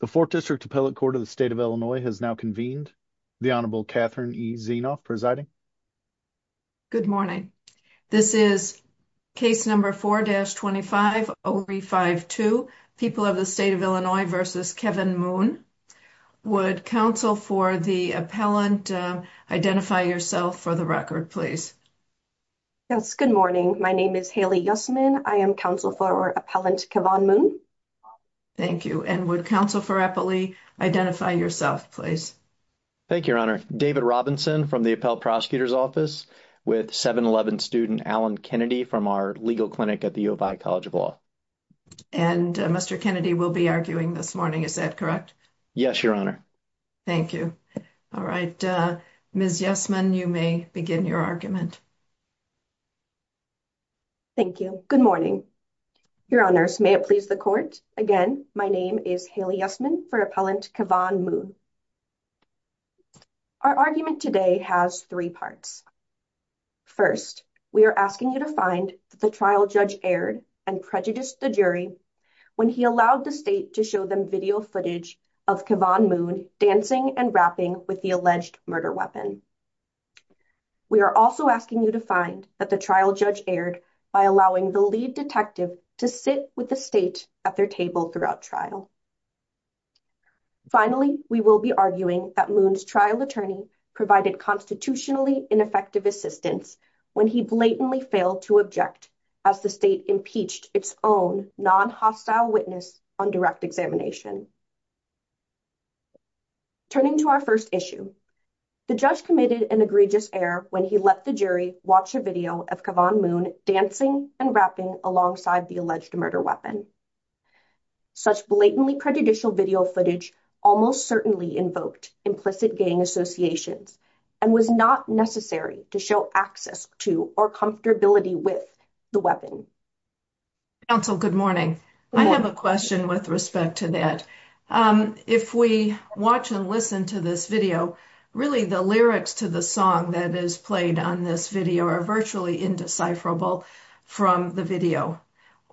The 4th District Appellate Court of the State of Illinois has now convened. The Honorable Catherine E. Zienoff presiding. Good morning. This is case number 4-25-052, People of the State of Illinois v. Kevin Moon. Would counsel for the appellant identify yourself for the record, please? Yes, good morning. My name is Haley Yussman. I am counsel for Appellant Kevin Moon. Thank you. And would counsel for Appley identify yourself, please? Thank you, Your Honor. David Robinson from the Appellate Prosecutor's Office with 7-11 student Alan Kennedy from our legal clinic at the U of I College of Law. And Mr. Kennedy will be arguing this morning, is that correct? Yes, Your Honor. Thank you. All right, Ms. Yussman, you may begin your argument. Thank you. Good morning. Your Honor, may it please the court, again, my name is Haley Yussman for Appellant Kevin Moon. Our argument today has three parts. First, we are asking you to find that the trial judge erred and prejudiced the jury when he allowed the state to show them video footage of Kevin Moon dancing and rapping with the alleged murder weapon. We are also asking you to find that the trial judge erred by allowing the lead detective to sit with the state at their table throughout trial. Finally, we will be arguing that Moon's trial attorney provided constitutionally ineffective assistance when he blatantly failed to object as the state impeached its own non-hostile witness on direct examination. Turning to our first issue, the judge committed an egregious error when he let the jury watch a video of Kevin Moon dancing and rapping alongside the alleged murder weapon. Such blatantly prejudicial video footage almost certainly invoked implicit gang associations and was not necessary to show access to or comfortability with the weapon. Counsel, good morning. I have a If we watch and listen to this video, really the lyrics to the song that is played on this video are virtually indecipherable from the video.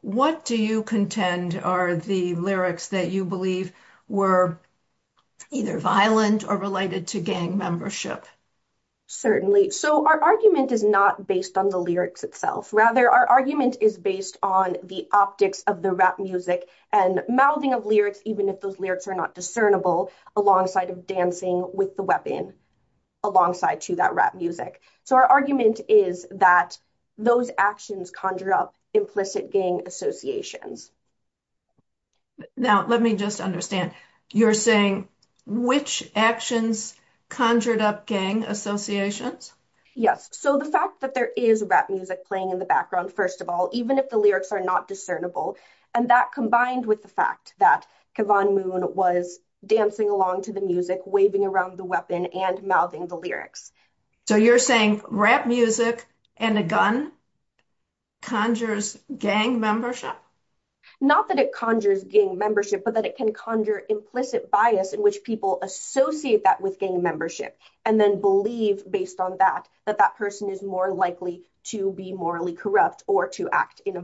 What do you contend are the lyrics that you believe were either violent or related to gang membership? Certainly. So our argument is not based on the lyrics itself. Rather, our argument is based on the optics of the rap music and mouthing of lyrics even if those lyrics are not discernible alongside of dancing with the weapon alongside to that rap music. So our argument is that those actions conjured up implicit gang associations. Now, let me just understand. You're saying which actions conjured up gang associations? Yes. So the fact that there is rap music playing in the background, first of all, even if the lyrics are not and that combined with the fact that K'von Moon was dancing along to the music, waving around the weapon, and mouthing the lyrics. So you're saying rap music and a gun conjures gang membership? Not that it conjures gang membership, but that it can conjure implicit bias in which people associate that with gang membership and then believe based on that that that person is more likely to be morally corrupt or to act in a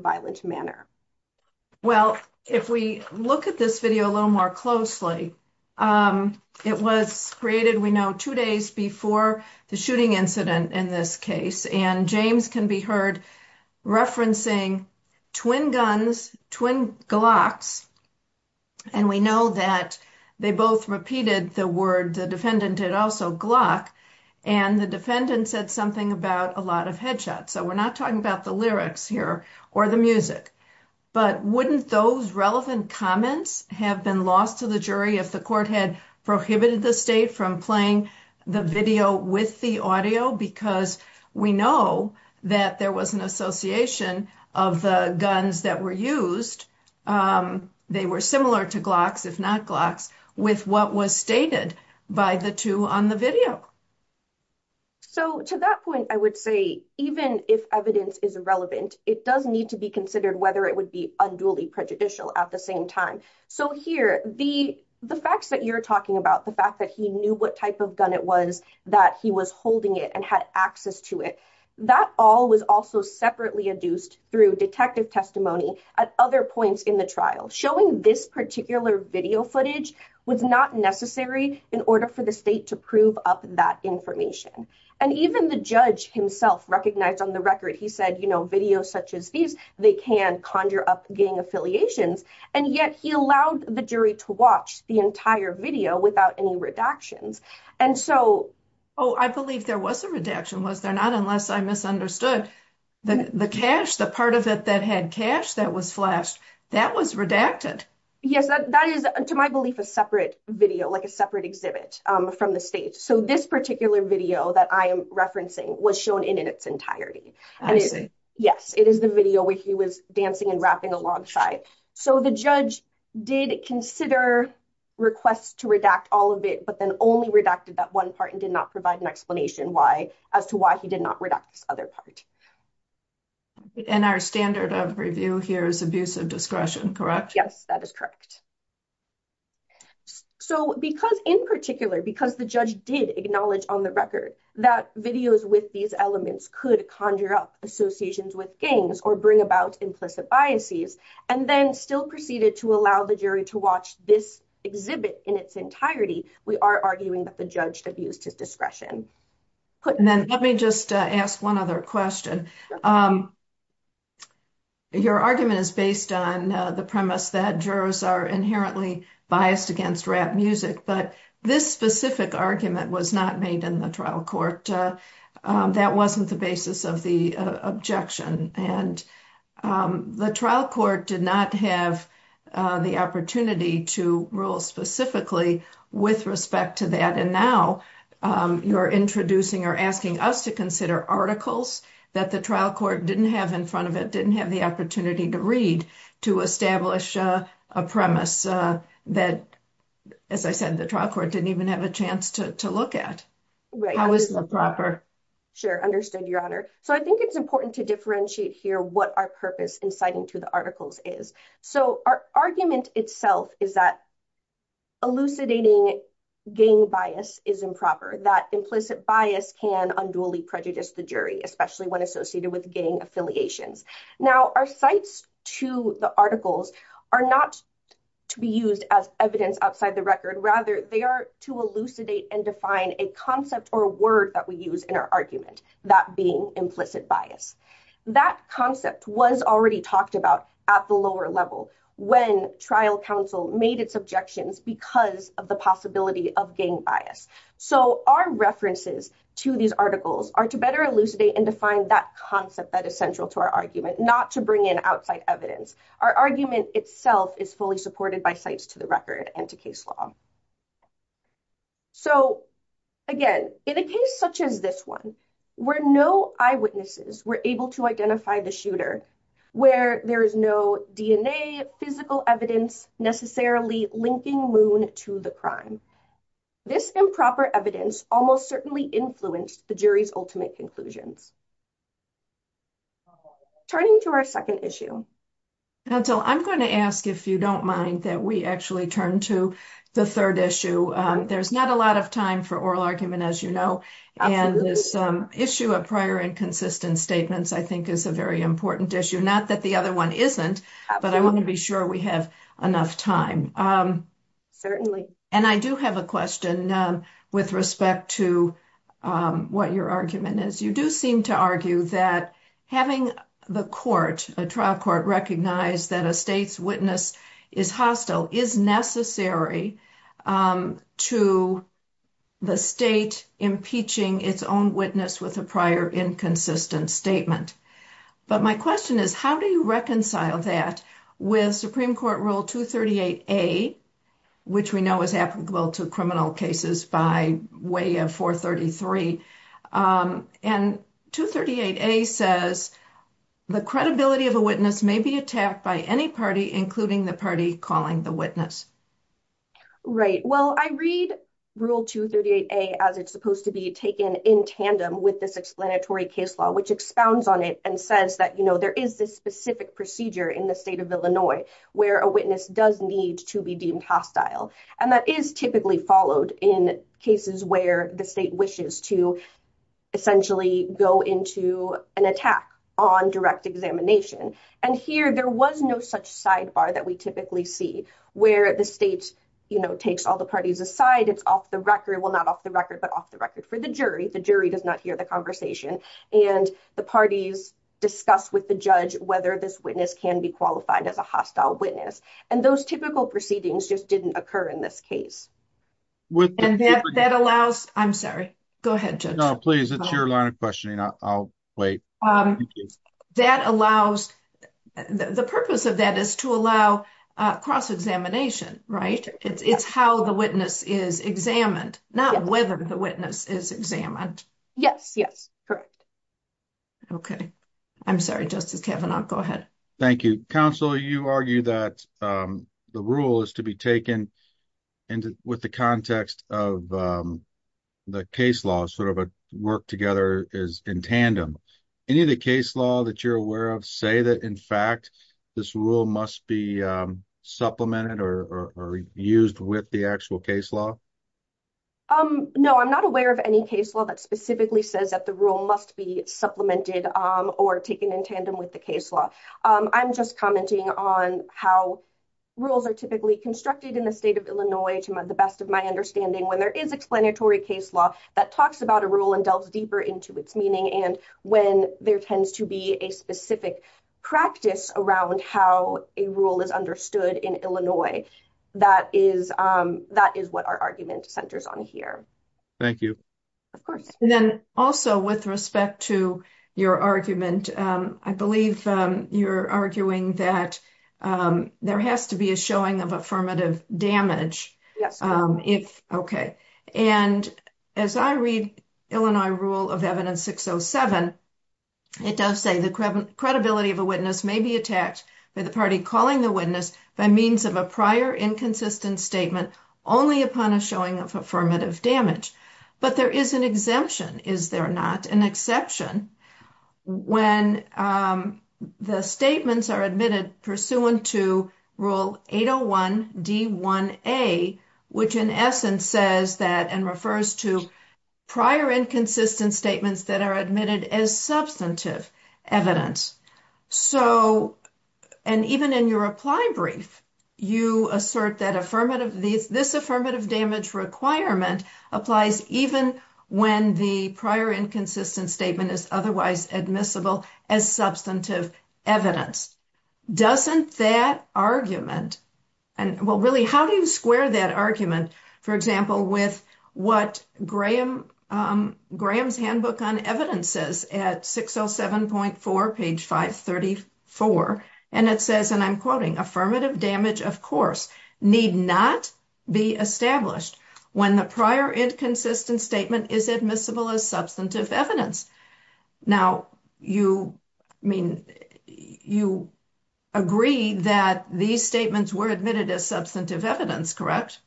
Well, if we look at this video a little more closely, it was created, we know, two days before the shooting incident in this case and James can be heard referencing twin guns, twin glocks, and we know that they both repeated the word the defendant did also, glock, and the defendant said something about a lot of headshots. So we're not talking about the lyrics here or the music, but wouldn't those relevant comments have been lost to the jury if the court had prohibited the state from playing the video with the audio? Because we know that there was an association of the guns that were used, they were similar to glocks, if not glocks, with what was stated by the two on the video. So to that point, I would say even if evidence is irrelevant, it does need to be considered whether it would be unduly prejudicial at the same time. So here, the facts that you're talking about, the fact that he knew what type of gun it was, that he was holding it and had access to it, that all was also separately adduced through detective testimony at other points in the trial. Showing this particular video footage was not necessary in order for the state to prove up that information. And even the judge himself recognized on the record, he said, you know, videos such as these, they can conjure up gang affiliations, and yet he allowed the jury to watch the entire video without any redactions. And so... Oh, I believe there was a redaction, was there not, unless I misunderstood. The cash, the part of it that had cash that was flashed, that was redacted. Yes, that is, to my belief, a separate video, like a separate exhibit from the state. So this particular video that I am referencing was shown in its entirety. I see. Yes, it is the video where he was dancing and rapping alongside. So the judge did consider requests to redact all of it, but then only redacted that one part and did not provide an explanation why, as to why he did not redact this other part. And our standard of review here is abusive discretion, correct? Yes, that is correct. So because, in particular, because the judge did acknowledge on the record that videos with these elements could conjure up associations with gangs or bring about implicit biases, and then still proceeded to allow the jury to watch this exhibit in its entirety, we are arguing that the judge abused his discretion. And then let me just ask one other question. Your argument is based on the premise that jurors are inherently biased against rap music, but this specific argument was not made in the trial court. That wasn't the basis of the objection, and the trial court did not have the opportunity to rule specifically with respect to that. And now you're introducing or asking us to consider articles that the trial court didn't have in front of it, didn't have the opportunity to read, to establish a premise that, as I said, the trial court didn't even have a chance to look at. How is it improper? Sure, understood, Your Honor. So I think it's important to differentiate here what our purpose in citing to the articles is. So our argument itself is that elucidating gang bias is improper, that implicit bias can unduly prejudice the jury, especially when associated with gang affiliations. Now, our cites to the articles are not to be used as evidence outside the record. Rather, they are to elucidate and define a concept or word that we use in our argument, that being implicit bias. That concept was already talked about at the lower level when trial counsel made its objections because of the possibility of gang bias. So our references to these articles are to better elucidate and define that concept that is central to our argument, not to bring in outside evidence. Our argument itself is fully supported by cites to the record and to case law. So, again, in a case such as this one, where no eyewitnesses were able to identify the shooter, where there is no DNA, physical evidence necessarily linking Moon to the crime, this improper evidence almost certainly influenced the jury's ultimate conclusions. Turning to our second issue. Now, Jill, I'm going to ask if you don't mind that we actually turn to the third issue. There's not a lot of time for oral argument, as you know, and this issue of prior and consistent statements, I think, is a very important issue. Not that the other one isn't, but I want to be sure we have enough time. Certainly. And I do have a question with respect to what your argument is. You do seem to argue that having the court, a trial court, recognize that a state's witness is hostile is necessary to the state impeaching its own witness with a prior inconsistent statement. But my question is, how do you reconcile that with Supreme Court Rule 238A, which we know is applicable to criminal cases by way of 433. And 238A says the credibility of a witness may be attacked by any party, including the party calling the witness. Right. Well, I read Rule 238A as it's supposed to be taken in tandem with this explanatory case law, which expounds on it and says that, you know, a witness does need to be deemed hostile. And that is typically followed in cases where the state wishes to essentially go into an attack on direct examination. And here, there was no such sidebar that we typically see, where the state, you know, takes all the parties aside. It's off the record. Well, not off the record, but off the record for the jury. The jury does not hear the conversation. And the parties discuss with the judge whether this can be qualified as a hostile witness. And those typical proceedings just didn't occur in this case. And that allows, I'm sorry. Go ahead, Judge. No, please. It's your line of questioning. I'll wait. That allows, the purpose of that is to allow cross-examination, right? It's how the witness is examined, not whether the witness is examined. Yes, yes. Correct. Okay. I'm sorry, Justice Kavanaugh. Go ahead. Thank you. Counsel, you argue that the rule is to be taken with the context of the case law, sort of a work together is in tandem. Any of the case law that you're aware of say that, in fact, this rule must be supplemented or used with the actual case law? Um, no, I'm not aware of any case law that specifically says that the rule must be supplemented or taken in tandem with the case law. I'm just commenting on how rules are typically constructed in the state of Illinois, to the best of my understanding, when there is explanatory case law that talks about a rule and delves deeper into its meaning. And when there tends to be a specific practice around how a rule is understood in Illinois, that is what our argument centers on here. Thank you. Of course. And then also with respect to your argument, I believe you're arguing that there has to be a showing of affirmative damage. Yes. Okay. And as I read Illinois rule of evidence 607, it does say the credibility of a witness may be attacked by the party calling the witness by means of a prior inconsistent statement, only upon a showing of affirmative damage. But there is an exemption. Is there not an exception when the statements are admitted pursuant to rule 801 D1A, which in essence says that, and refers to prior inconsistent statements that are admitted as substantive evidence. So, and even in your reply brief, you assert that affirmative, this affirmative damage requirement applies even when the prior inconsistent statement is otherwise admissible as substantive evidence. Doesn't that argument, and well, really how do you square that argument, for example, with what Graham's handbook on evidence says at 607.4 page 534. And it says, and I'm quoting affirmative damage, of course, need not be established when the prior inconsistent statement is admissible as substantive evidence. Now you mean you agree that these statements were admitted as substantive evidence, correct?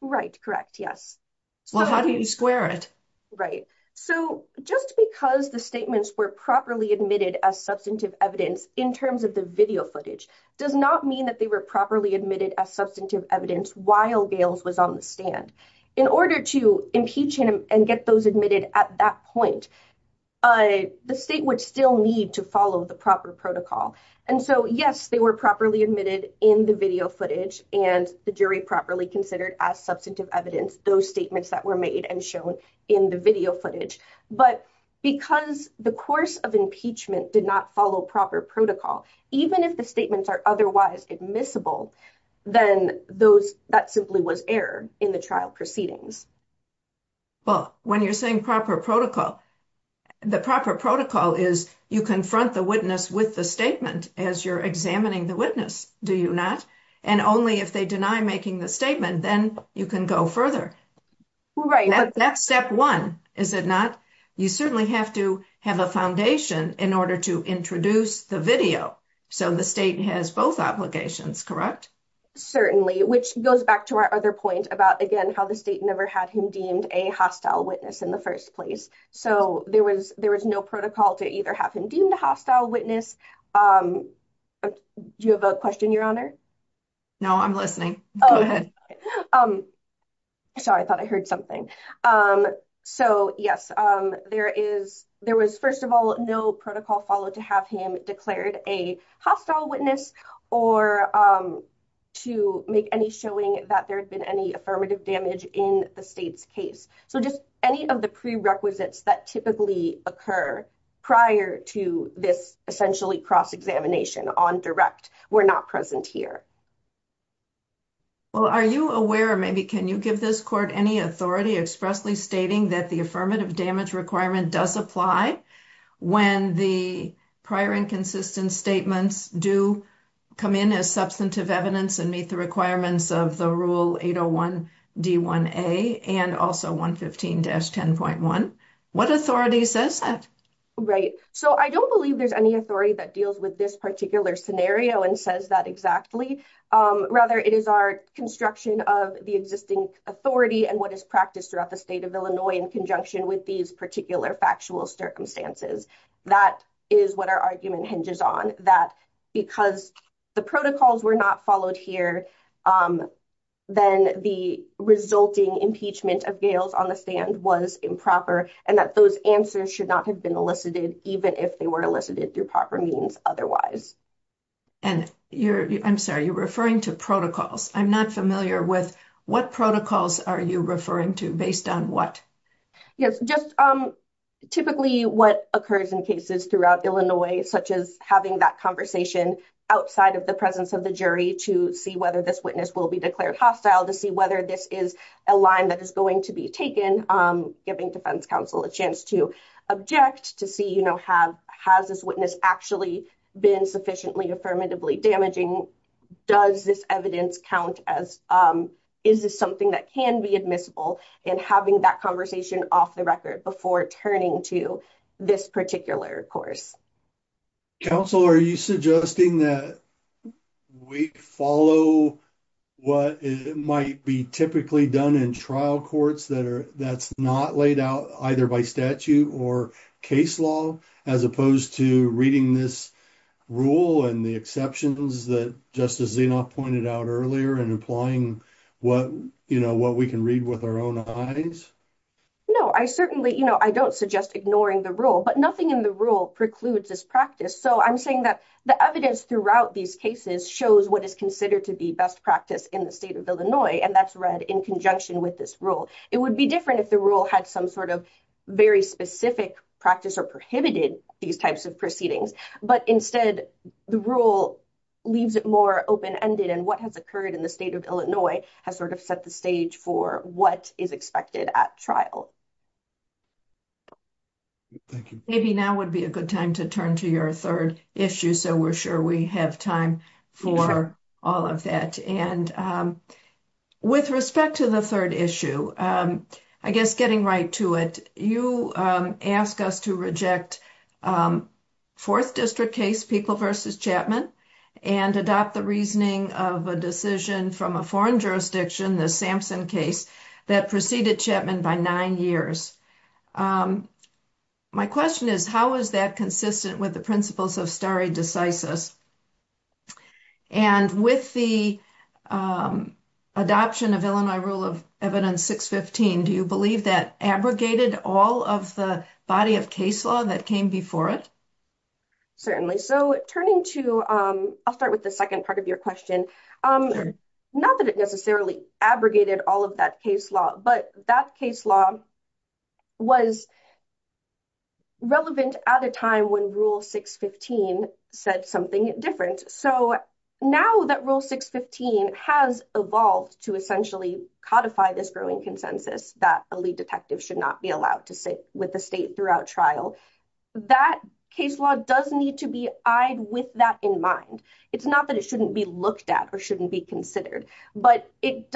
Right. Correct. Yes. So how do you square it? Right. So just because the statements were properly admitted as substantive evidence in terms of the video footage does not mean that they were properly admitted as substantive evidence while Gales was on the stand. In order to impeach him and get those admitted at that point, the state would still need to follow the proper protocol. And so, yes, they were properly admitted in the video footage and the jury properly considered as substantive evidence those statements that were made and shown in the video footage. But because the course of impeachment did not follow proper protocol, even if the statements are otherwise admissible, then that simply was error in the trial proceedings. Well, when you're saying proper protocol, the proper protocol is you confront the witness with the statement as you're examining the witness, do you not? And only if they deny making the statement, then you can go further. Right. That's step one, is it not? You certainly have to have a foundation in order to introduce the video. So the state has both obligations, correct? Certainly, which goes back to our other point about, again, how the state never had him deemed a hostile witness in the first place. So there was no protocol to either have him deemed a hostile witness. Do you have a question, Your Honor? No, I'm listening. Go ahead. Sorry, I thought I heard something. So, yes, there was, first of all, no protocol followed to have him declared a hostile witness or to make any showing that there had been any affirmative damage in the state's case. So just any of the prerequisites that typically occur prior to this essentially cross-examination on direct were not present here. Well, are you aware, maybe, can you give this court any authority expressly stating that the affirmative damage requirement does apply when the prior inconsistent statements do come in as substantive evidence and meet the requirements of the Rule 801 D1A and also 115-10.1? What Right. So I don't believe there's any authority that deals with this particular scenario and says that exactly. Rather, it is our construction of the existing authority and what is practiced throughout the state of Illinois in conjunction with these particular factual circumstances. That is what our argument hinges on, that because the protocols were not followed here, then the resulting impeachment of Gales on the stand was improper and that those answers should have been elicited even if they were elicited through proper means otherwise. And you're, I'm sorry, you're referring to protocols. I'm not familiar with what protocols are you referring to based on what? Yes, just typically what occurs in cases throughout Illinois, such as having that conversation outside of the presence of the jury to see whether this witness will be declared hostile, to see whether this is a line that is going to be taken, giving defense counsel a chance to object, to see, you know, have, has this witness actually been sufficiently affirmatively damaging? Does this evidence count as, is this something that can be admissible and having that conversation off the record before turning to this particular course? Counsel, are you suggesting that we follow what might be typically done in trial courts that are, that's not laid out either by statute or case law, as opposed to reading this rule and the exceptions that Justice Zinoff pointed out earlier and applying what, you know, what we can read with our own eyes? No, I certainly, you know, I don't suggest ignoring the rule, but nothing in the rule precludes this practice. So I'm saying that the evidence throughout these cases shows what is considered to be best practice in the state of Illinois, and that's read in conjunction with this rule. It would be different if the rule had some sort of very specific practice or prohibited these types of proceedings, but instead the rule leaves it more open-ended and what has occurred in the state of Illinois has sort of set the stage for what is expected at trial. Thank you. Maybe now would be a good time to turn to your third issue, so we're sure we have time for all of that. And with respect to the third issue, I guess getting right to it, you ask us to reject fourth district case, People v. Chapman, and adopt the reasoning of a decision from a foreign jurisdiction, the Sampson case, that preceded Chapman by nine years. My question is, how is that consistent with the principles of stare decisis? And with the adoption of Illinois Rule of Evidence 615, do you believe that abrogated all of the body of case law that came before it? Certainly. So turning to, I'll start with the second part of your question, not that it necessarily abrogated all of that case law, but that case law was relevant at a time when Rule 615 said something different. So now that Rule 615 has evolved to essentially codify this growing consensus that a lead detective should not be allowed to sit with the state throughout trial, that case law does need to be eyed with that in mind. It's not that it shouldn't be looked at or shouldn't be considered, but there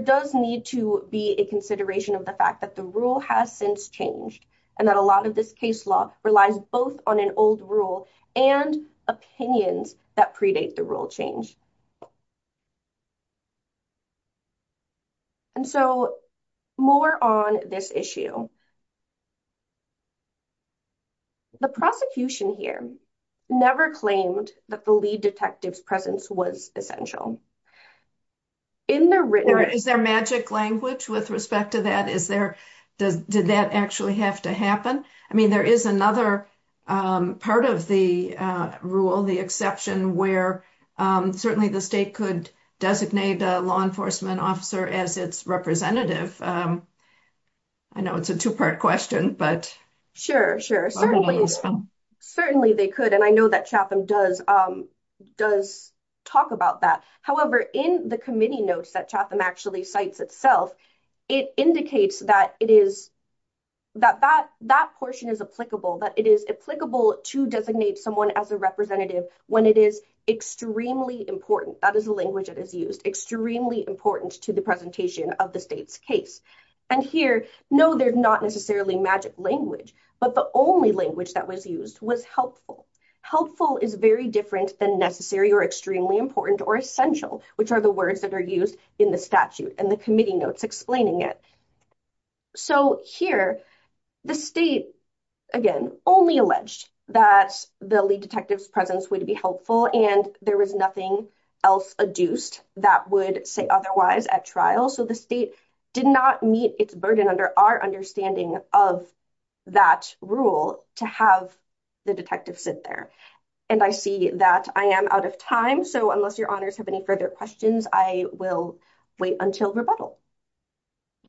does need to be a consideration of the fact that the rule has since changed and that a lot of this case law relies both on an old rule and opinions that predate the rule change. And so more on this issue. The prosecution here never claimed that the lead detective's presence was essential. Is there magic language with respect to that? Did that actually have to happen? I mean, there is another part of the rule, the exception, where certainly the state could designate a law enforcement officer as its representative. I know it's a two-part question, but... Sure, sure. Certainly they could, and I know that Chatham does talk about that. However, in the committee notes that Chatham actually cites itself, it indicates that that portion is applicable, that it is applicable to designate someone as a representative when it is extremely important. That is the language that is used. Extremely important to the presentation of the state's case. And here, no, there's not necessarily magic language, but the only language that was used was helpful. Helpful is very different than necessary or extremely important or essential, which are the words that are used in the statute and the committee notes explaining it. So here, the state, again, only alleged that the lead detective's presence would be helpful and there was nothing else adduced that would say otherwise at trial. So the state did not meet its burden under our understanding of that rule to have the detective sit there. And I see that I am out of time, so unless your honors have any further questions, I will wait until rebuttal.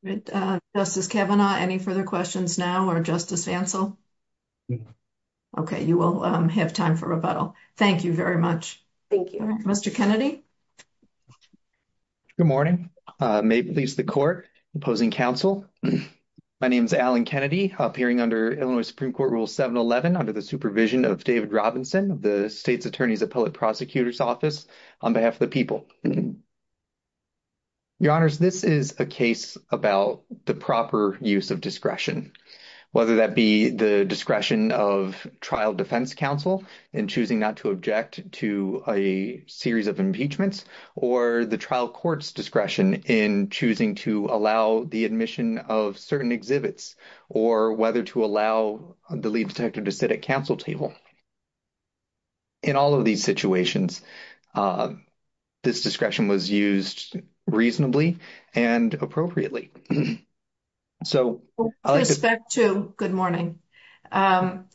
Great. Justice Kavanaugh, any further questions now, or Justice Vancel? Okay, you will have time for rebuttal. Thank you very much. Thank you. Mr. Kennedy? Good morning. May it please the court, opposing counsel, my name is Alan Kennedy, appearing under Illinois Supreme Court Rule 711 under the supervision of David Robinson, the state's attorney's appellate prosecutor's office, on behalf of the people. Your honors, this is a case about the proper use of discretion, whether that be the discretion of trial defense counsel in choosing not to object to a series of impeachments, or the trial court's discretion in choosing to allow the admission of certain exhibits, or whether to allow the lead detective to sit at counsel table. In all of these situations, this discretion was used reasonably and appropriately. With respect to, good morning, counsel,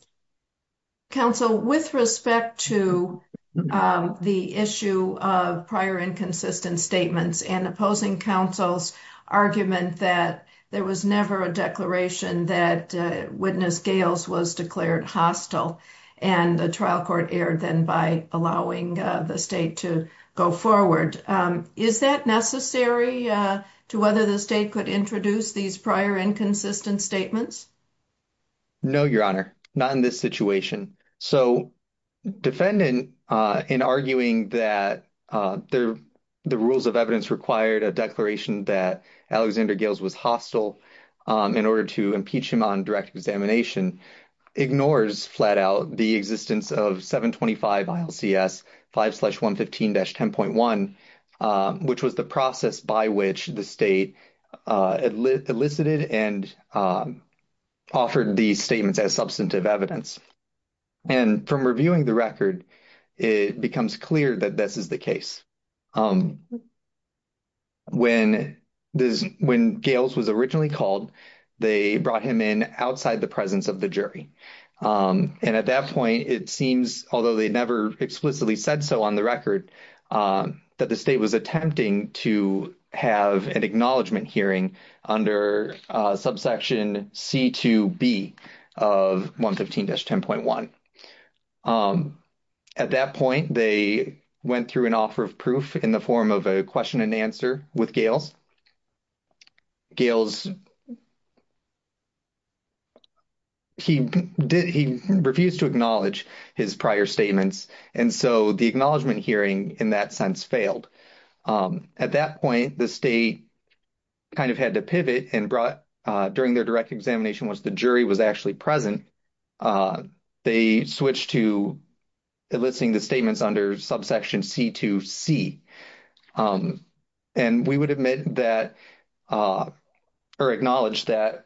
with respect to the issue of prior inconsistent statements, and opposing counsel's argument that there was never a declaration that witness Gales was declared hostile, and the trial court erred then by allowing the state to go forward. Is that necessary to whether the state could introduce these prior inconsistent statements? No, your honor, not in this situation. So, defendant, in arguing that the rules of evidence required a declaration that Alexander Gales was hostile in order to impeach him on direct examination, ignores flat out the existence of 725 ILCS 5-115-10.1, which was the process by which the state elicited and offered these statements as substantive evidence. And from reviewing the record, it becomes clear that this is the case. When Gales was originally called, they brought him in outside the presence of the jury. And at that point, it seems, although they never explicitly said so on the record, that the state was attempting to have an acknowledgment hearing under subsection C-2B of 5-115-10.1. At that point, they went through an offer of proof in the form of a question and answer with Gales. Gales, he refused to acknowledge his prior statements, and so the acknowledgment hearing in that sense failed. At that point, the state kind of had to pivot and during their direct examination, once the jury was actually present, they switched to eliciting the statements under subsection C-2C. And we would admit that or acknowledge that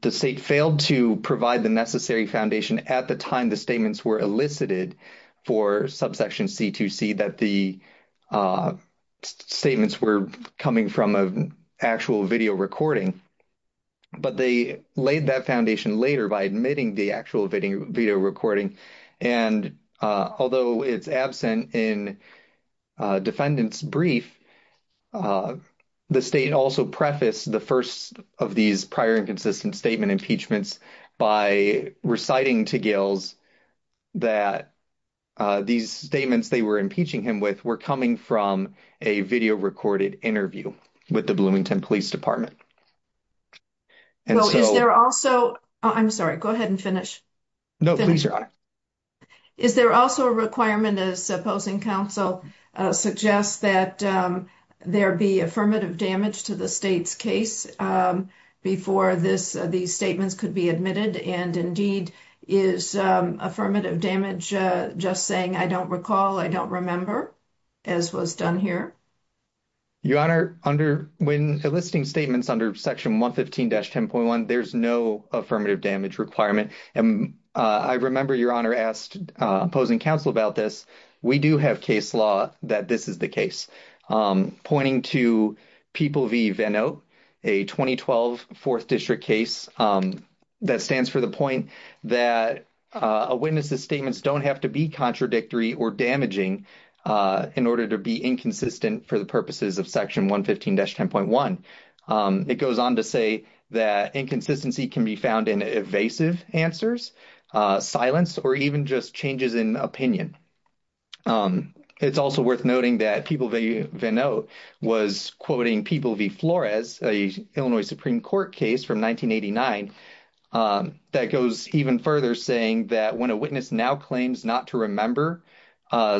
the state failed to provide the necessary foundation at the time the statements were elicited for subsection C-2C, that the statements were coming from an actual video recording. But they laid that foundation later by admitting the actual video recording. And although it's absent in defendant's brief, the state also prefaced the first of these prior inconsistent statement impeachments by reciting to Gales that these statements they were impeaching him with were coming from a video recorded interview with the Bloomington Police Department. Well, is there also — I'm sorry, go ahead and finish. No, please, Your Honor. Is there also a requirement, as opposing counsel suggests, that there be affirmative damage to the case before these statements could be admitted? And indeed, is affirmative damage just saying, I don't recall, I don't remember, as was done here? Your Honor, when eliciting statements under section 115-10.1, there's no affirmative damage requirement. And I remember Your Honor asked opposing counsel about this. We do have case that this is the case. Pointing to People v. Venote, a 2012 4th District case that stands for the point that a witness's statements don't have to be contradictory or damaging in order to be inconsistent for the purposes of section 115-10.1. It goes on to say that inconsistency can be found in evasive answers, silence, or even just changes in opinion. It's also worth noting that People v. Venote was quoting People v. Flores, an Illinois Supreme Court case from 1989, that goes even further, saying that when a witness now claims not to remember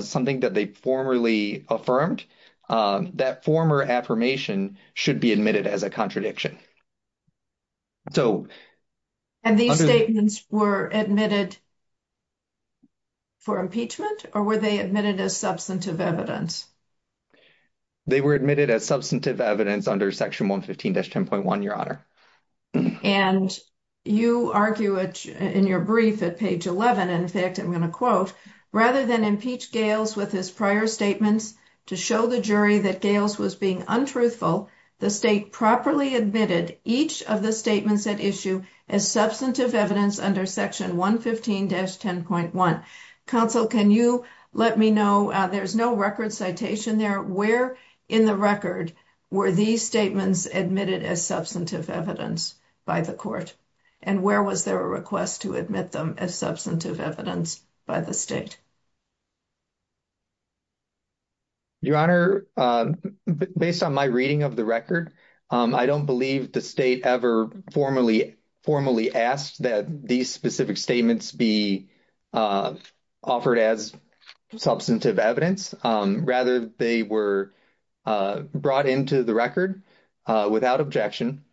something that they formerly affirmed, that former affirmation should be admitted as a contradiction. And these statements were admitted for impeachment, or were they admitted as substantive evidence? They were admitted as substantive evidence under section 115-10.1, Your Honor. And you argue it in your brief at page 11. In fact, I'm going to quote, rather than impeach Gales with his prior statements to show the jury that Gales was being untruthful, the state properly admitted each of the statements at issue as substantive evidence under section 115-10.1. Counsel, can you let me know, there's no record citation there, where in the record were these statements admitted as substantive evidence by the court? And where was there a request to admit them as substantive evidence by the state? Your Honor, based on my reading of the record, I don't believe the state ever formally asked that these specific statements be offered as substantive evidence. Rather, they were brought into the record without objection.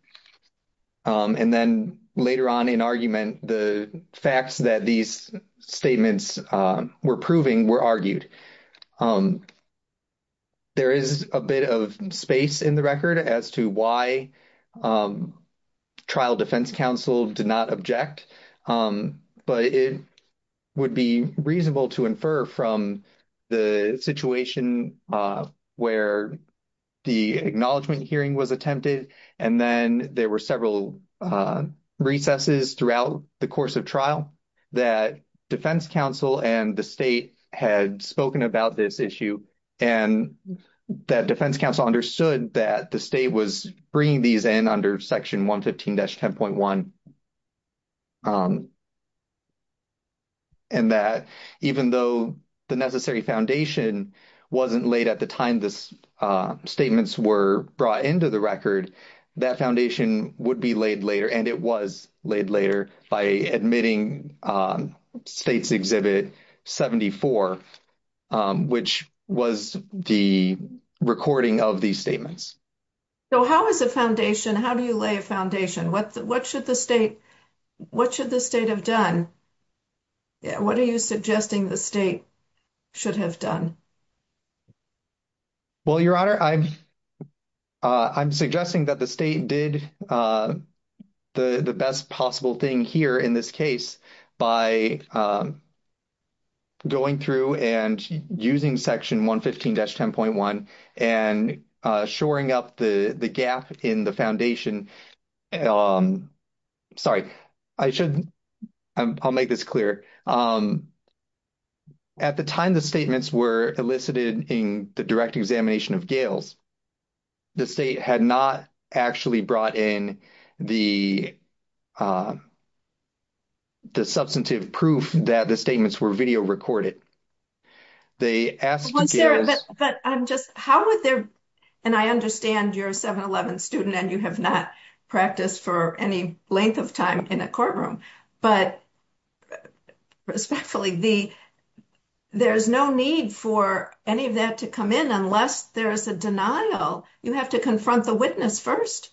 And then later on in argument, the facts that these were proving were argued. There is a bit of space in the record as to why trial defense counsel did not object. But it would be reasonable to infer from the situation where the acknowledgment hearing was attempted, and then there were several recesses throughout the course of trial, that defense counsel and the state had spoken about this issue, and that defense counsel understood that the state was bringing these in under section 115-10.1. And that even though the necessary foundation wasn't laid at the time statements were brought into the record, that foundation would be laid later, and it was laid later by admitting States Exhibit 74, which was the recording of these statements. So how is a foundation, how do you lay a foundation? What should the state have done? What are you suggesting the state should have done? Well, Your Honor, I'm suggesting that the state did the best possible thing here in this case by going through and using section 115-10.1 and shoring up the gap in the foundation. Sorry, I should, I'll make this clear. At the time the statements were elicited in the direct examination of Gail's, the state had not actually brought in the substantive proof that the statements were video recorded. They asked Gail's- Well, Sarah, but I'm just, how would there, and I understand you're a 7-11 student and you have not practiced for any length of time in a courtroom, but respectfully, there's no need for any of that to come in unless there's a denial. You have to confront the witness first.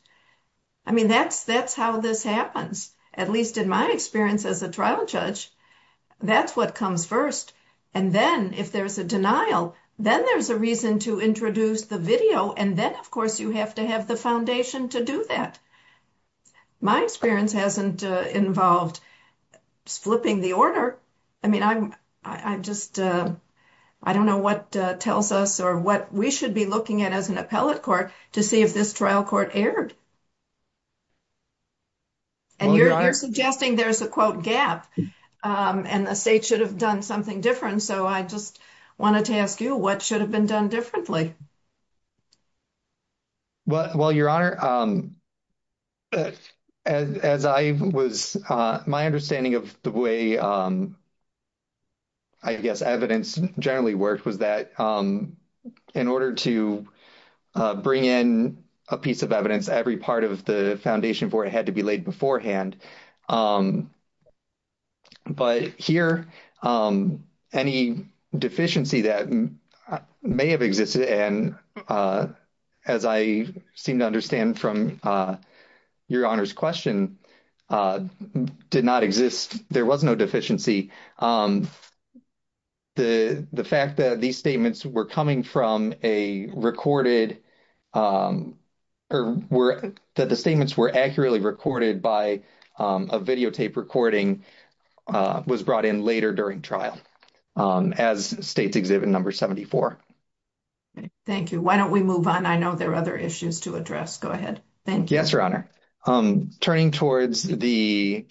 I mean, that's how this happens, at least in my experience as a trial judge. That's what comes first, and then if there's a denial, then there's a reason to introduce the video, and then, of course, you have to have the foundation to do that. My experience hasn't involved flipping the order. I mean, I'm just, I don't know what tells us or what we should be looking at as an appellate court to see if this trial court erred, and you're suggesting there's a, quote, gap, and the state should have done something different, so I just wanted to ask you, what should have been done differently? Well, Your Honor, as I was, my understanding of the way, I guess, evidence generally worked was that in order to bring in a piece of evidence, every part of the foundation board had to be laid and, as I seem to understand from Your Honor's question, did not exist, there was no deficiency. The fact that these statements were coming from a recorded, or that the statements were accurately recorded by a videotape recording was brought in later during trial as states exhibit number 74. Thank you. Why don't we move on? I know there are other issues to address. Go ahead. Thank you. Yes, Your Honor. Turning towards the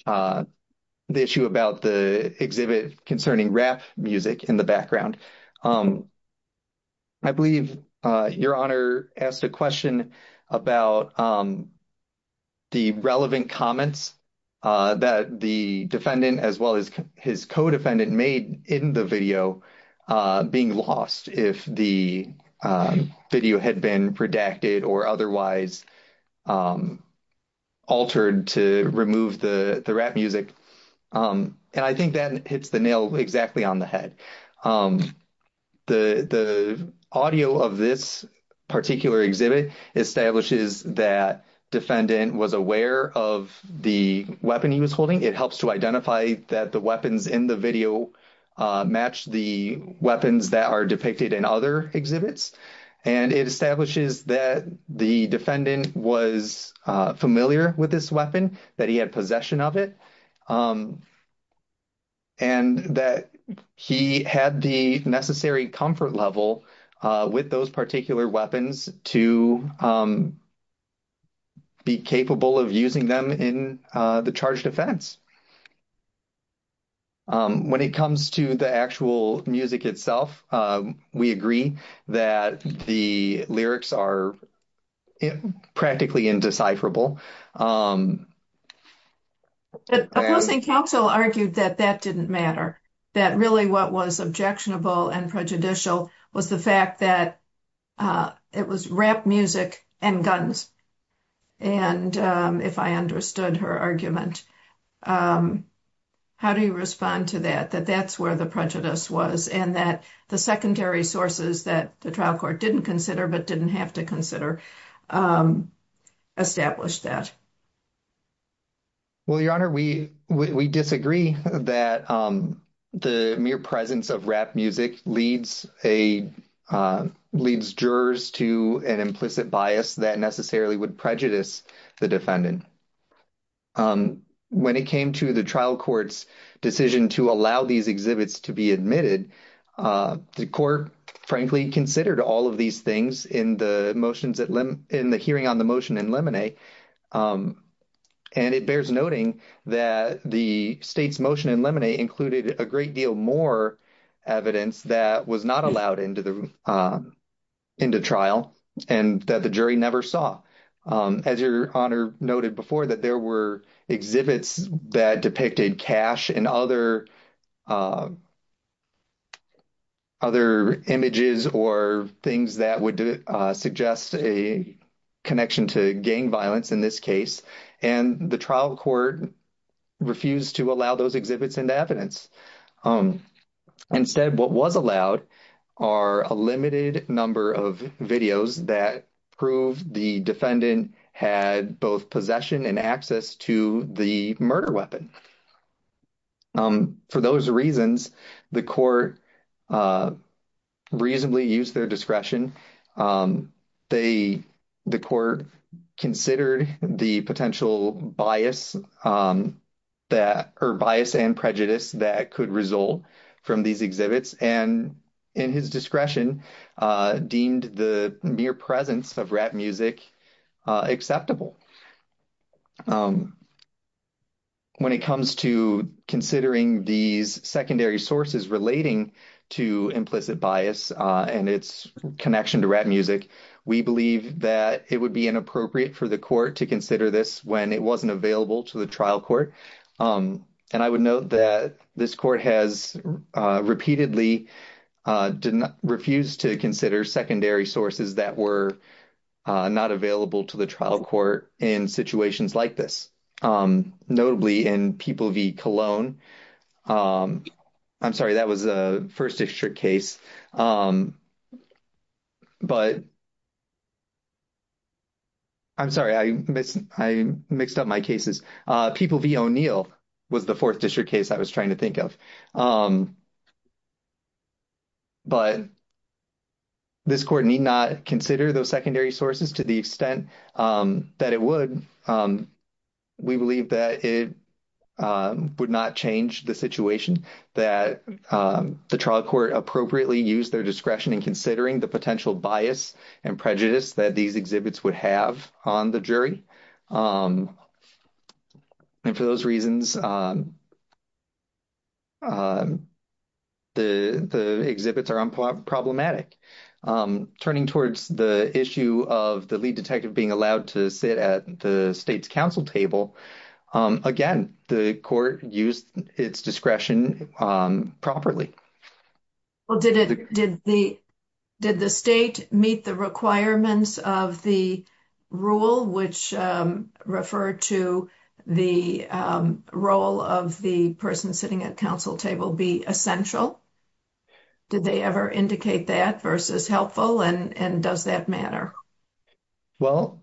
issue about the exhibit concerning rap music in the background, I believe Your Honor asked a question about the relevant comments that the defendant, as well as his co-defendant, made in the video being lost if the video had been redacted or otherwise altered to remove the rap music, and I think that hits the nail exactly on the head. The audio of this particular exhibit establishes that defendant was aware of the weapon he was holding. It helps to identify that the weapons in the video match the weapons that are depicted in other exhibits, and it establishes that the defendant was familiar with this weapon, that he had possession of it, and that he had the necessary comfort level with those particular weapons to be capable of using them in the charged offense. When it comes to the actual music itself, we agree that the lyrics are practically indecipherable. The opposing counsel argued that that didn't matter, that really what was objectionable and prejudicial was the fact that it was rap music and guns, and if I understood her argument, how do you respond to that, that that's where the prejudice was, and that the secondary sources that trial court didn't consider but didn't have to consider established that? Well, Your Honor, we disagree that the mere presence of rap music leads jurors to an implicit bias that necessarily would prejudice the defendant. When it came to the trial court's decision to allow these exhibits to be admitted, the court, frankly, considered all of these things in the motions, in the hearing on the motion in Lemonet, and it bears noting that the state's motion in Lemonet included a great deal more evidence that was not allowed into the trial and that the jury never saw. As Your Honor noted before, that there were exhibits that depicted cash and other images or things that would suggest a connection to gang violence in this case, and the trial court refused to allow those exhibits into evidence. Instead, what was allowed are a limited number of videos that prove the defendant had both possession and access to the murder weapon. For those reasons, the court reasonably used their discretion. The court considered the potential bias and prejudice that could result from these exhibits, and in his discretion, deemed the mere presence of rap music acceptable. When it comes to considering these secondary sources relating to implicit bias and its connection to rap music, we believe that it would be inappropriate for the court to consider this when it wasn't available to the trial court, and I would note that this court has repeatedly refused to consider secondary sources that were not available to the trial court in situations like this, notably in People v. Colon. I'm sorry, that was a First District case, but I'm sorry, I mixed up my cases. People v. O'Neill was the Fourth District case I was trying to think of, but this court need not consider those secondary sources to the extent that it would. We believe that it would not change the situation that the trial court appropriately used their discretion in considering the potential bias and prejudice that these exhibits would have on the jury, and for those reasons, the exhibits are unproblematic. Turning towards the issue of the lead detective being allowed to sit at the state's council table, again, the court used its discretion properly. Well, did the state meet the requirements of the rule which referred to the role of the person sitting at council table be essential? Did they ever indicate that versus helpful, and does that matter? Well,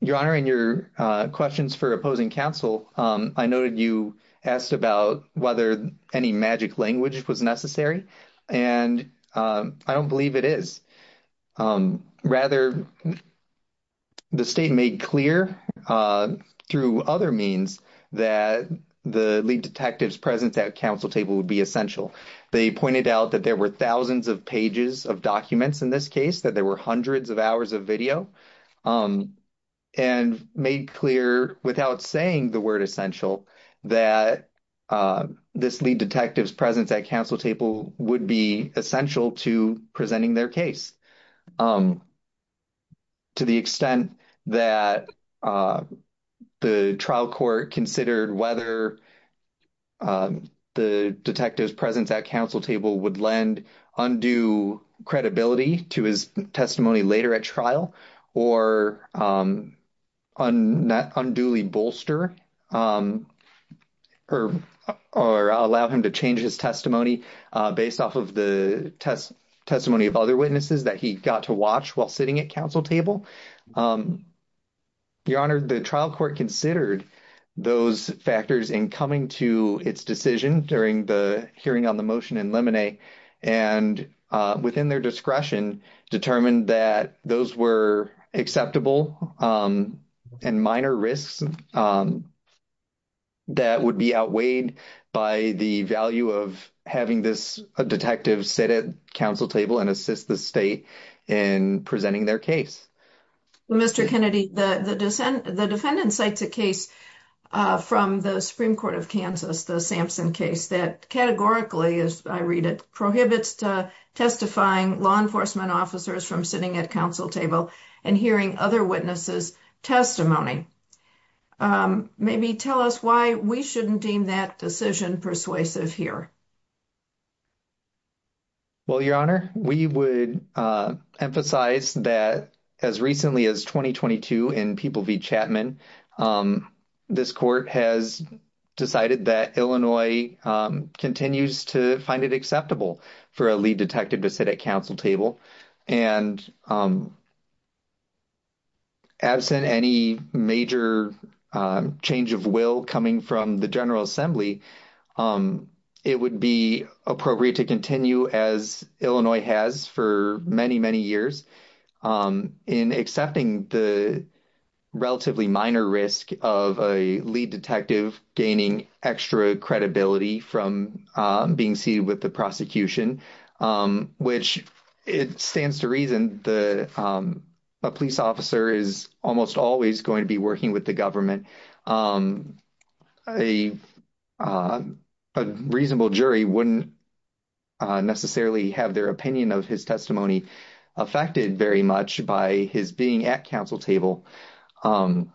Your Honor, in your questions for opposing counsel, I noted you asked about whether any magic language was necessary, and I don't believe it is. Rather, the state made clear through other means that the lead detective's presence at council table would be essential. They pointed out that there were thousands of pages of documents in this case, that there were hundreds of hours of video, and made clear without saying the word essential that this lead detective's presence at council table would be essential to presenting their case. To the extent that the trial court considered whether the detective's presence at council table would lend undue credibility to his testimony later at trial or unduly bolster or allow him to change his testimony based off of the testimony of other witnesses that he got to watch while sitting at council table, Your Honor, the trial court considered those factors in coming to its decision during the hearing on the motion in Lemonet, and within their discretion, determined that those were acceptable and minor risks that would be outweighed by the value of having this detective sit at council table and assist the state in presenting their case. Mr. Kennedy, the defendant cites a case from the Supreme Court of Kansas, the Sampson case, that categorically, as I read it, prohibits to testifying law enforcement officers from sitting at council table and hearing other witnesses' testimony. Maybe tell us why we shouldn't deem that decision persuasive here. Well, Your Honor, we would emphasize that as recently as 2022 in People v. Chapman, this court has decided that Illinois continues to find it acceptable for a lead detective to sit at council table, and absent any major change of will coming from the General Assembly, it would be appropriate to continue, as Illinois has for many, many years, in accepting the relatively minor risk of a lead detective gaining extra credibility from being seated with the prosecution, which stands to reason that a police officer is almost always to be working with the government. A reasonable jury wouldn't necessarily have their opinion of his testimony affected very much by his being at council table. Well,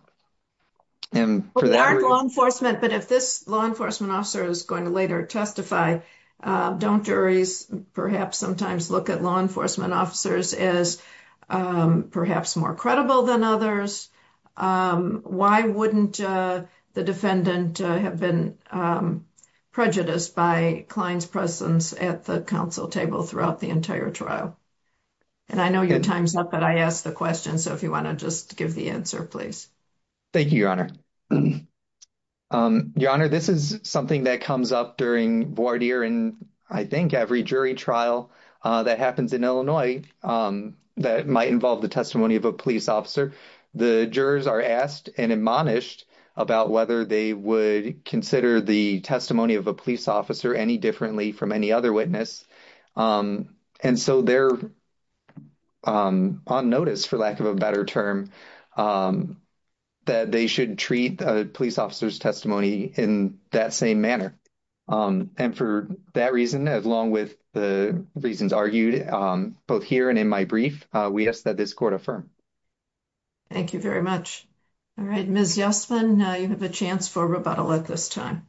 they aren't law enforcement, but if this law enforcement officer is going to later testify, don't juries perhaps sometimes look at law enforcement officers as perhaps more credible than others? Why wouldn't the defendant have been prejudiced by Klein's presence at the council table throughout the entire trial? And I know your time's up, but I asked the question, so if you want to just give the answer, please. Thank you, Your Honor. Your Honor, this is something that comes up during I think every jury trial that happens in Illinois that might involve the testimony of a police officer. The jurors are asked and admonished about whether they would consider the testimony of a police officer any differently from any other witness, and so they're on notice, for lack of a better term, that they should treat a police officer's testimony in that same manner. And for that reason, along with the reasons argued both here and in my brief, we ask that this court affirm. Thank you very much. All right, Ms. Yasmin, you have a chance for rebuttal at this time.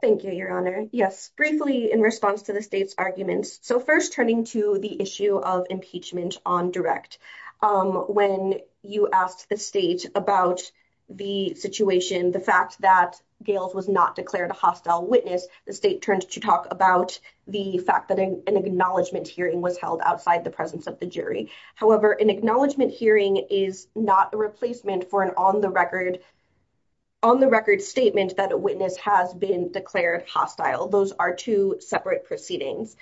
Thank you, Your Honor. Yes, briefly in response to the state's arguments, so first turning to the issue of impeachment on direct. When you asked the about the situation, the fact that Gales was not declared a hostile witness, the state turned to talk about the fact that an acknowledgment hearing was held outside the presence of the jury. However, an acknowledgment hearing is not a replacement for an on-the-record statement that a witness has been declared hostile. Those are two separate proceedings.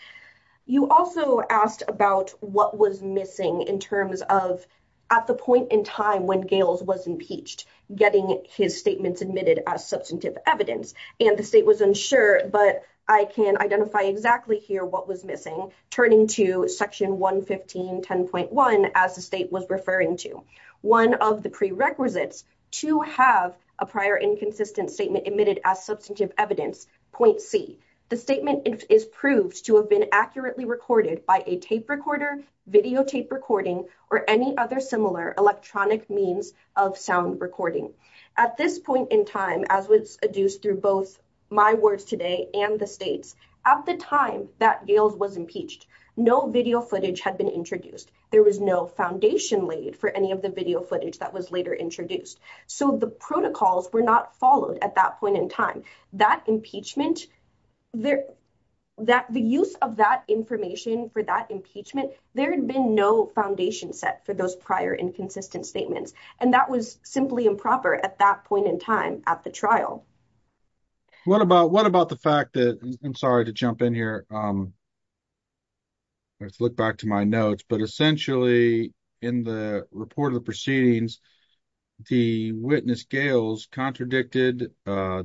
You also asked about what was missing in terms of at the point in time when Gales was impeached, getting his statements admitted as substantive evidence, and the state was unsure, but I can identify exactly here what was missing, turning to section 115.10.1 as the state was referring to. One of the prerequisites to have a prior inconsistent statement admitted as substantive evidence, point C, the statement is proved to have been accurately recorded by a tape recorder, videotape recording, or any other similar electronic means of sound recording. At this point in time, as was adduced through both my words today and the state's, at the time that Gales was impeached, no video footage had been introduced. There was no foundation laid for any of the video footage that was later introduced, so the protocols were not followed at that point in time. The use of that information for that impeachment, there had been no foundation set for those prior inconsistent statements, and that was simply improper at that point in time at the trial. What about the fact that, I'm sorry to jump in here, let's look back to my notes, but essentially in the report of the proceedings, the witness Gales contradicted, oh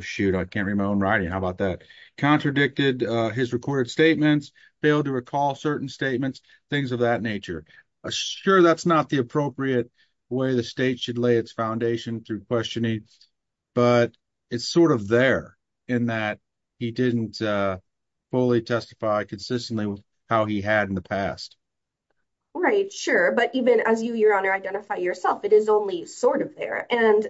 shoot, I can't read my own writing, how about that, contradicted his recorded statements, failed to recall certain statements, things of that nature. Sure, that's not the appropriate way the state should lay its foundation through questioning, but it's sort of there in that he didn't fully testify consistently how he had in the past. Right, sure, but even as you, Your Honor, identify yourself, it is only sort of there, and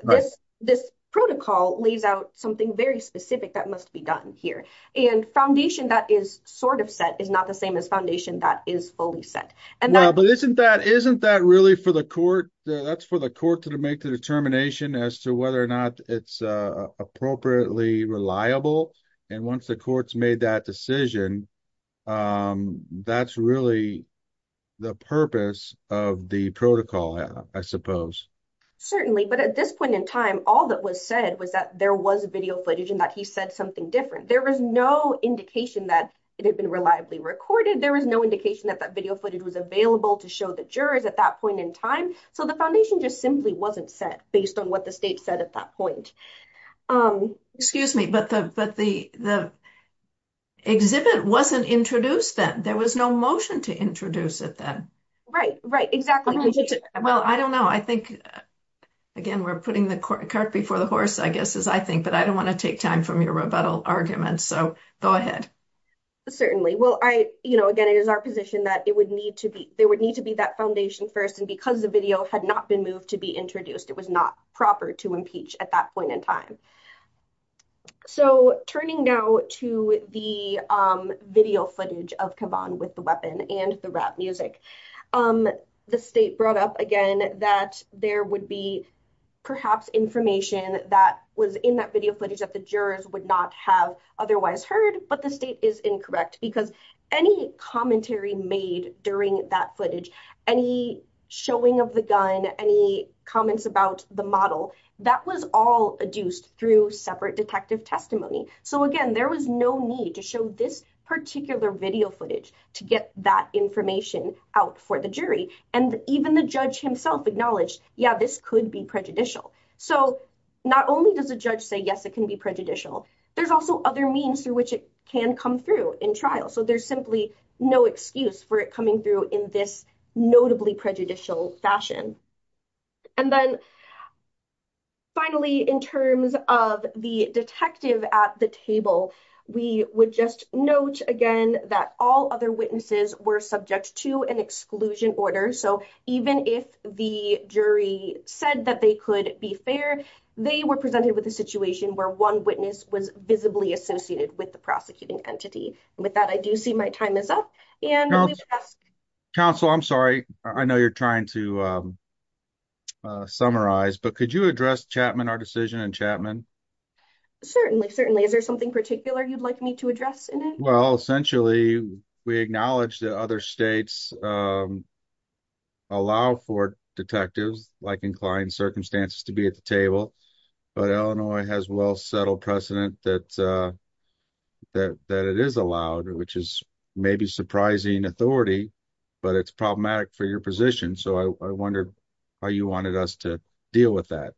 this protocol lays out something very specific that must be done here, and foundation that is sort of set is not the same as foundation that is fully set. But isn't that really for the court, that's for the court to make the determination as to whether or not it's appropriately reliable, and once the court's made that decision, that's really the purpose of the protocol, I suppose. Certainly, but at this point in time, all that was said was that there was video footage and that he said something different. There was no indication that it had been reliably recorded, there was no indication that that video footage was available to show the jurors at that point in time, so the foundation just simply wasn't set based on what the state said at that point. Excuse me, but the exhibit wasn't introduced then, there was no motion to introduce it then. Right, right, exactly. Well, I don't know, I think again, we're putting the cart before the horse, I guess, as I think, but I don't want to take time from your rebuttal arguments, so go ahead. Certainly, well, I, you know, again, it is our position that it would need to be, there would need to be that foundation first, and because video had not been moved to be introduced, it was not proper to impeach at that point in time. So, turning now to the video footage of Caban with the weapon and the rap music, the state brought up again that there would be perhaps information that was in that video footage that the jurors would not have otherwise heard, but the state is incorrect, because any commentary made during that footage, any showing of the gun, any comments about the model, that was all adduced through separate detective testimony, so again, there was no need to show this particular video footage to get that information out for the jury, and even the judge himself acknowledged, yeah, this could be prejudicial. So, not only does the judge say, yes, it can be prejudicial, there's also other means through which it can come through in trial, so there's simply no excuse for it coming through in this notably prejudicial fashion. And then, finally, in terms of the detective at the table, we would just note again that all other witnesses were subject to an exclusion order, so even if the jury said that they could be fair, they were presented with a situation where one witness was visibly associated with the entity. With that, I do see my time is up. Council, I'm sorry, I know you're trying to summarize, but could you address Chapman, our decision in Chapman? Certainly, certainly. Is there something particular you'd like me to address in it? Well, essentially, we acknowledge that other states allow for detectives, like inclined to be at the table, but Illinois has a well-settled precedent that it is allowed, which is maybe surprising authority, but it's problematic for your position, so I wonder how you wanted us to deal with that.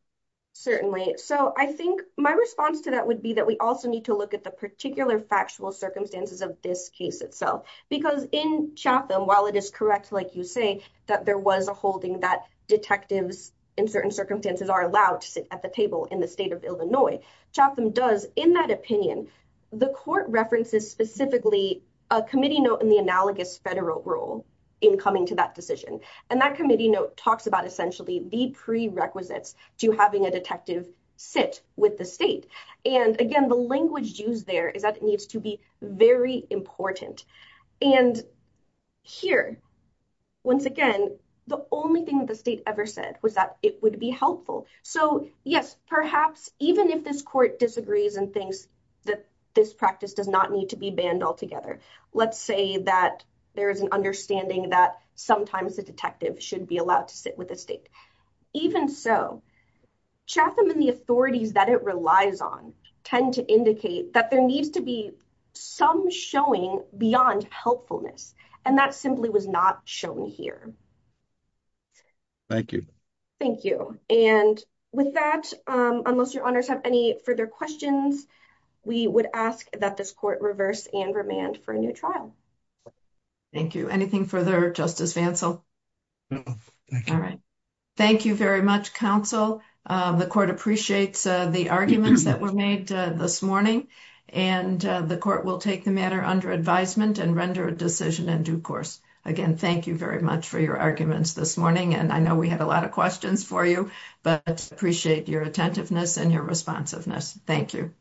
Certainly. So, I think my response to that would be that we also need to look at the particular factual circumstances of this case itself, because in Chapman, while it is correct, like you say, that there was a holding that detectives in certain circumstances are allowed to sit at the table in the state of Illinois, Chapman does, in that opinion, the court references specifically a committee note in the analogous federal rule in coming to that decision, and that committee note talks about essentially the prerequisites to having a detective sit with the state, and again, the language used there is that it needs to be very important, and here, once again, the only thing that the state ever said was that it would be helpful, so yes, perhaps even if this court disagrees and thinks that this practice does not need to be banned altogether, let's say that there is an understanding that sometimes the detective should be allowed to sit with the state, even so, Chapman and the authorities that it lies on tend to indicate that there needs to be some showing beyond helpfulness, and that simply was not shown here. Thank you. Thank you, and with that, unless your honors have any further questions, we would ask that this court reverse and remand for a new trial. Thank you. Anything further, Justice Vancell? No, thank you. All right. Thank you very much, counsel. The court appreciates the arguments that were made this morning, and the court will take the matter under advisement and render a decision in due course. Again, thank you very much for your arguments this morning, and I know we had a lot of questions for you, but appreciate your attentiveness and your responsiveness. Thank you.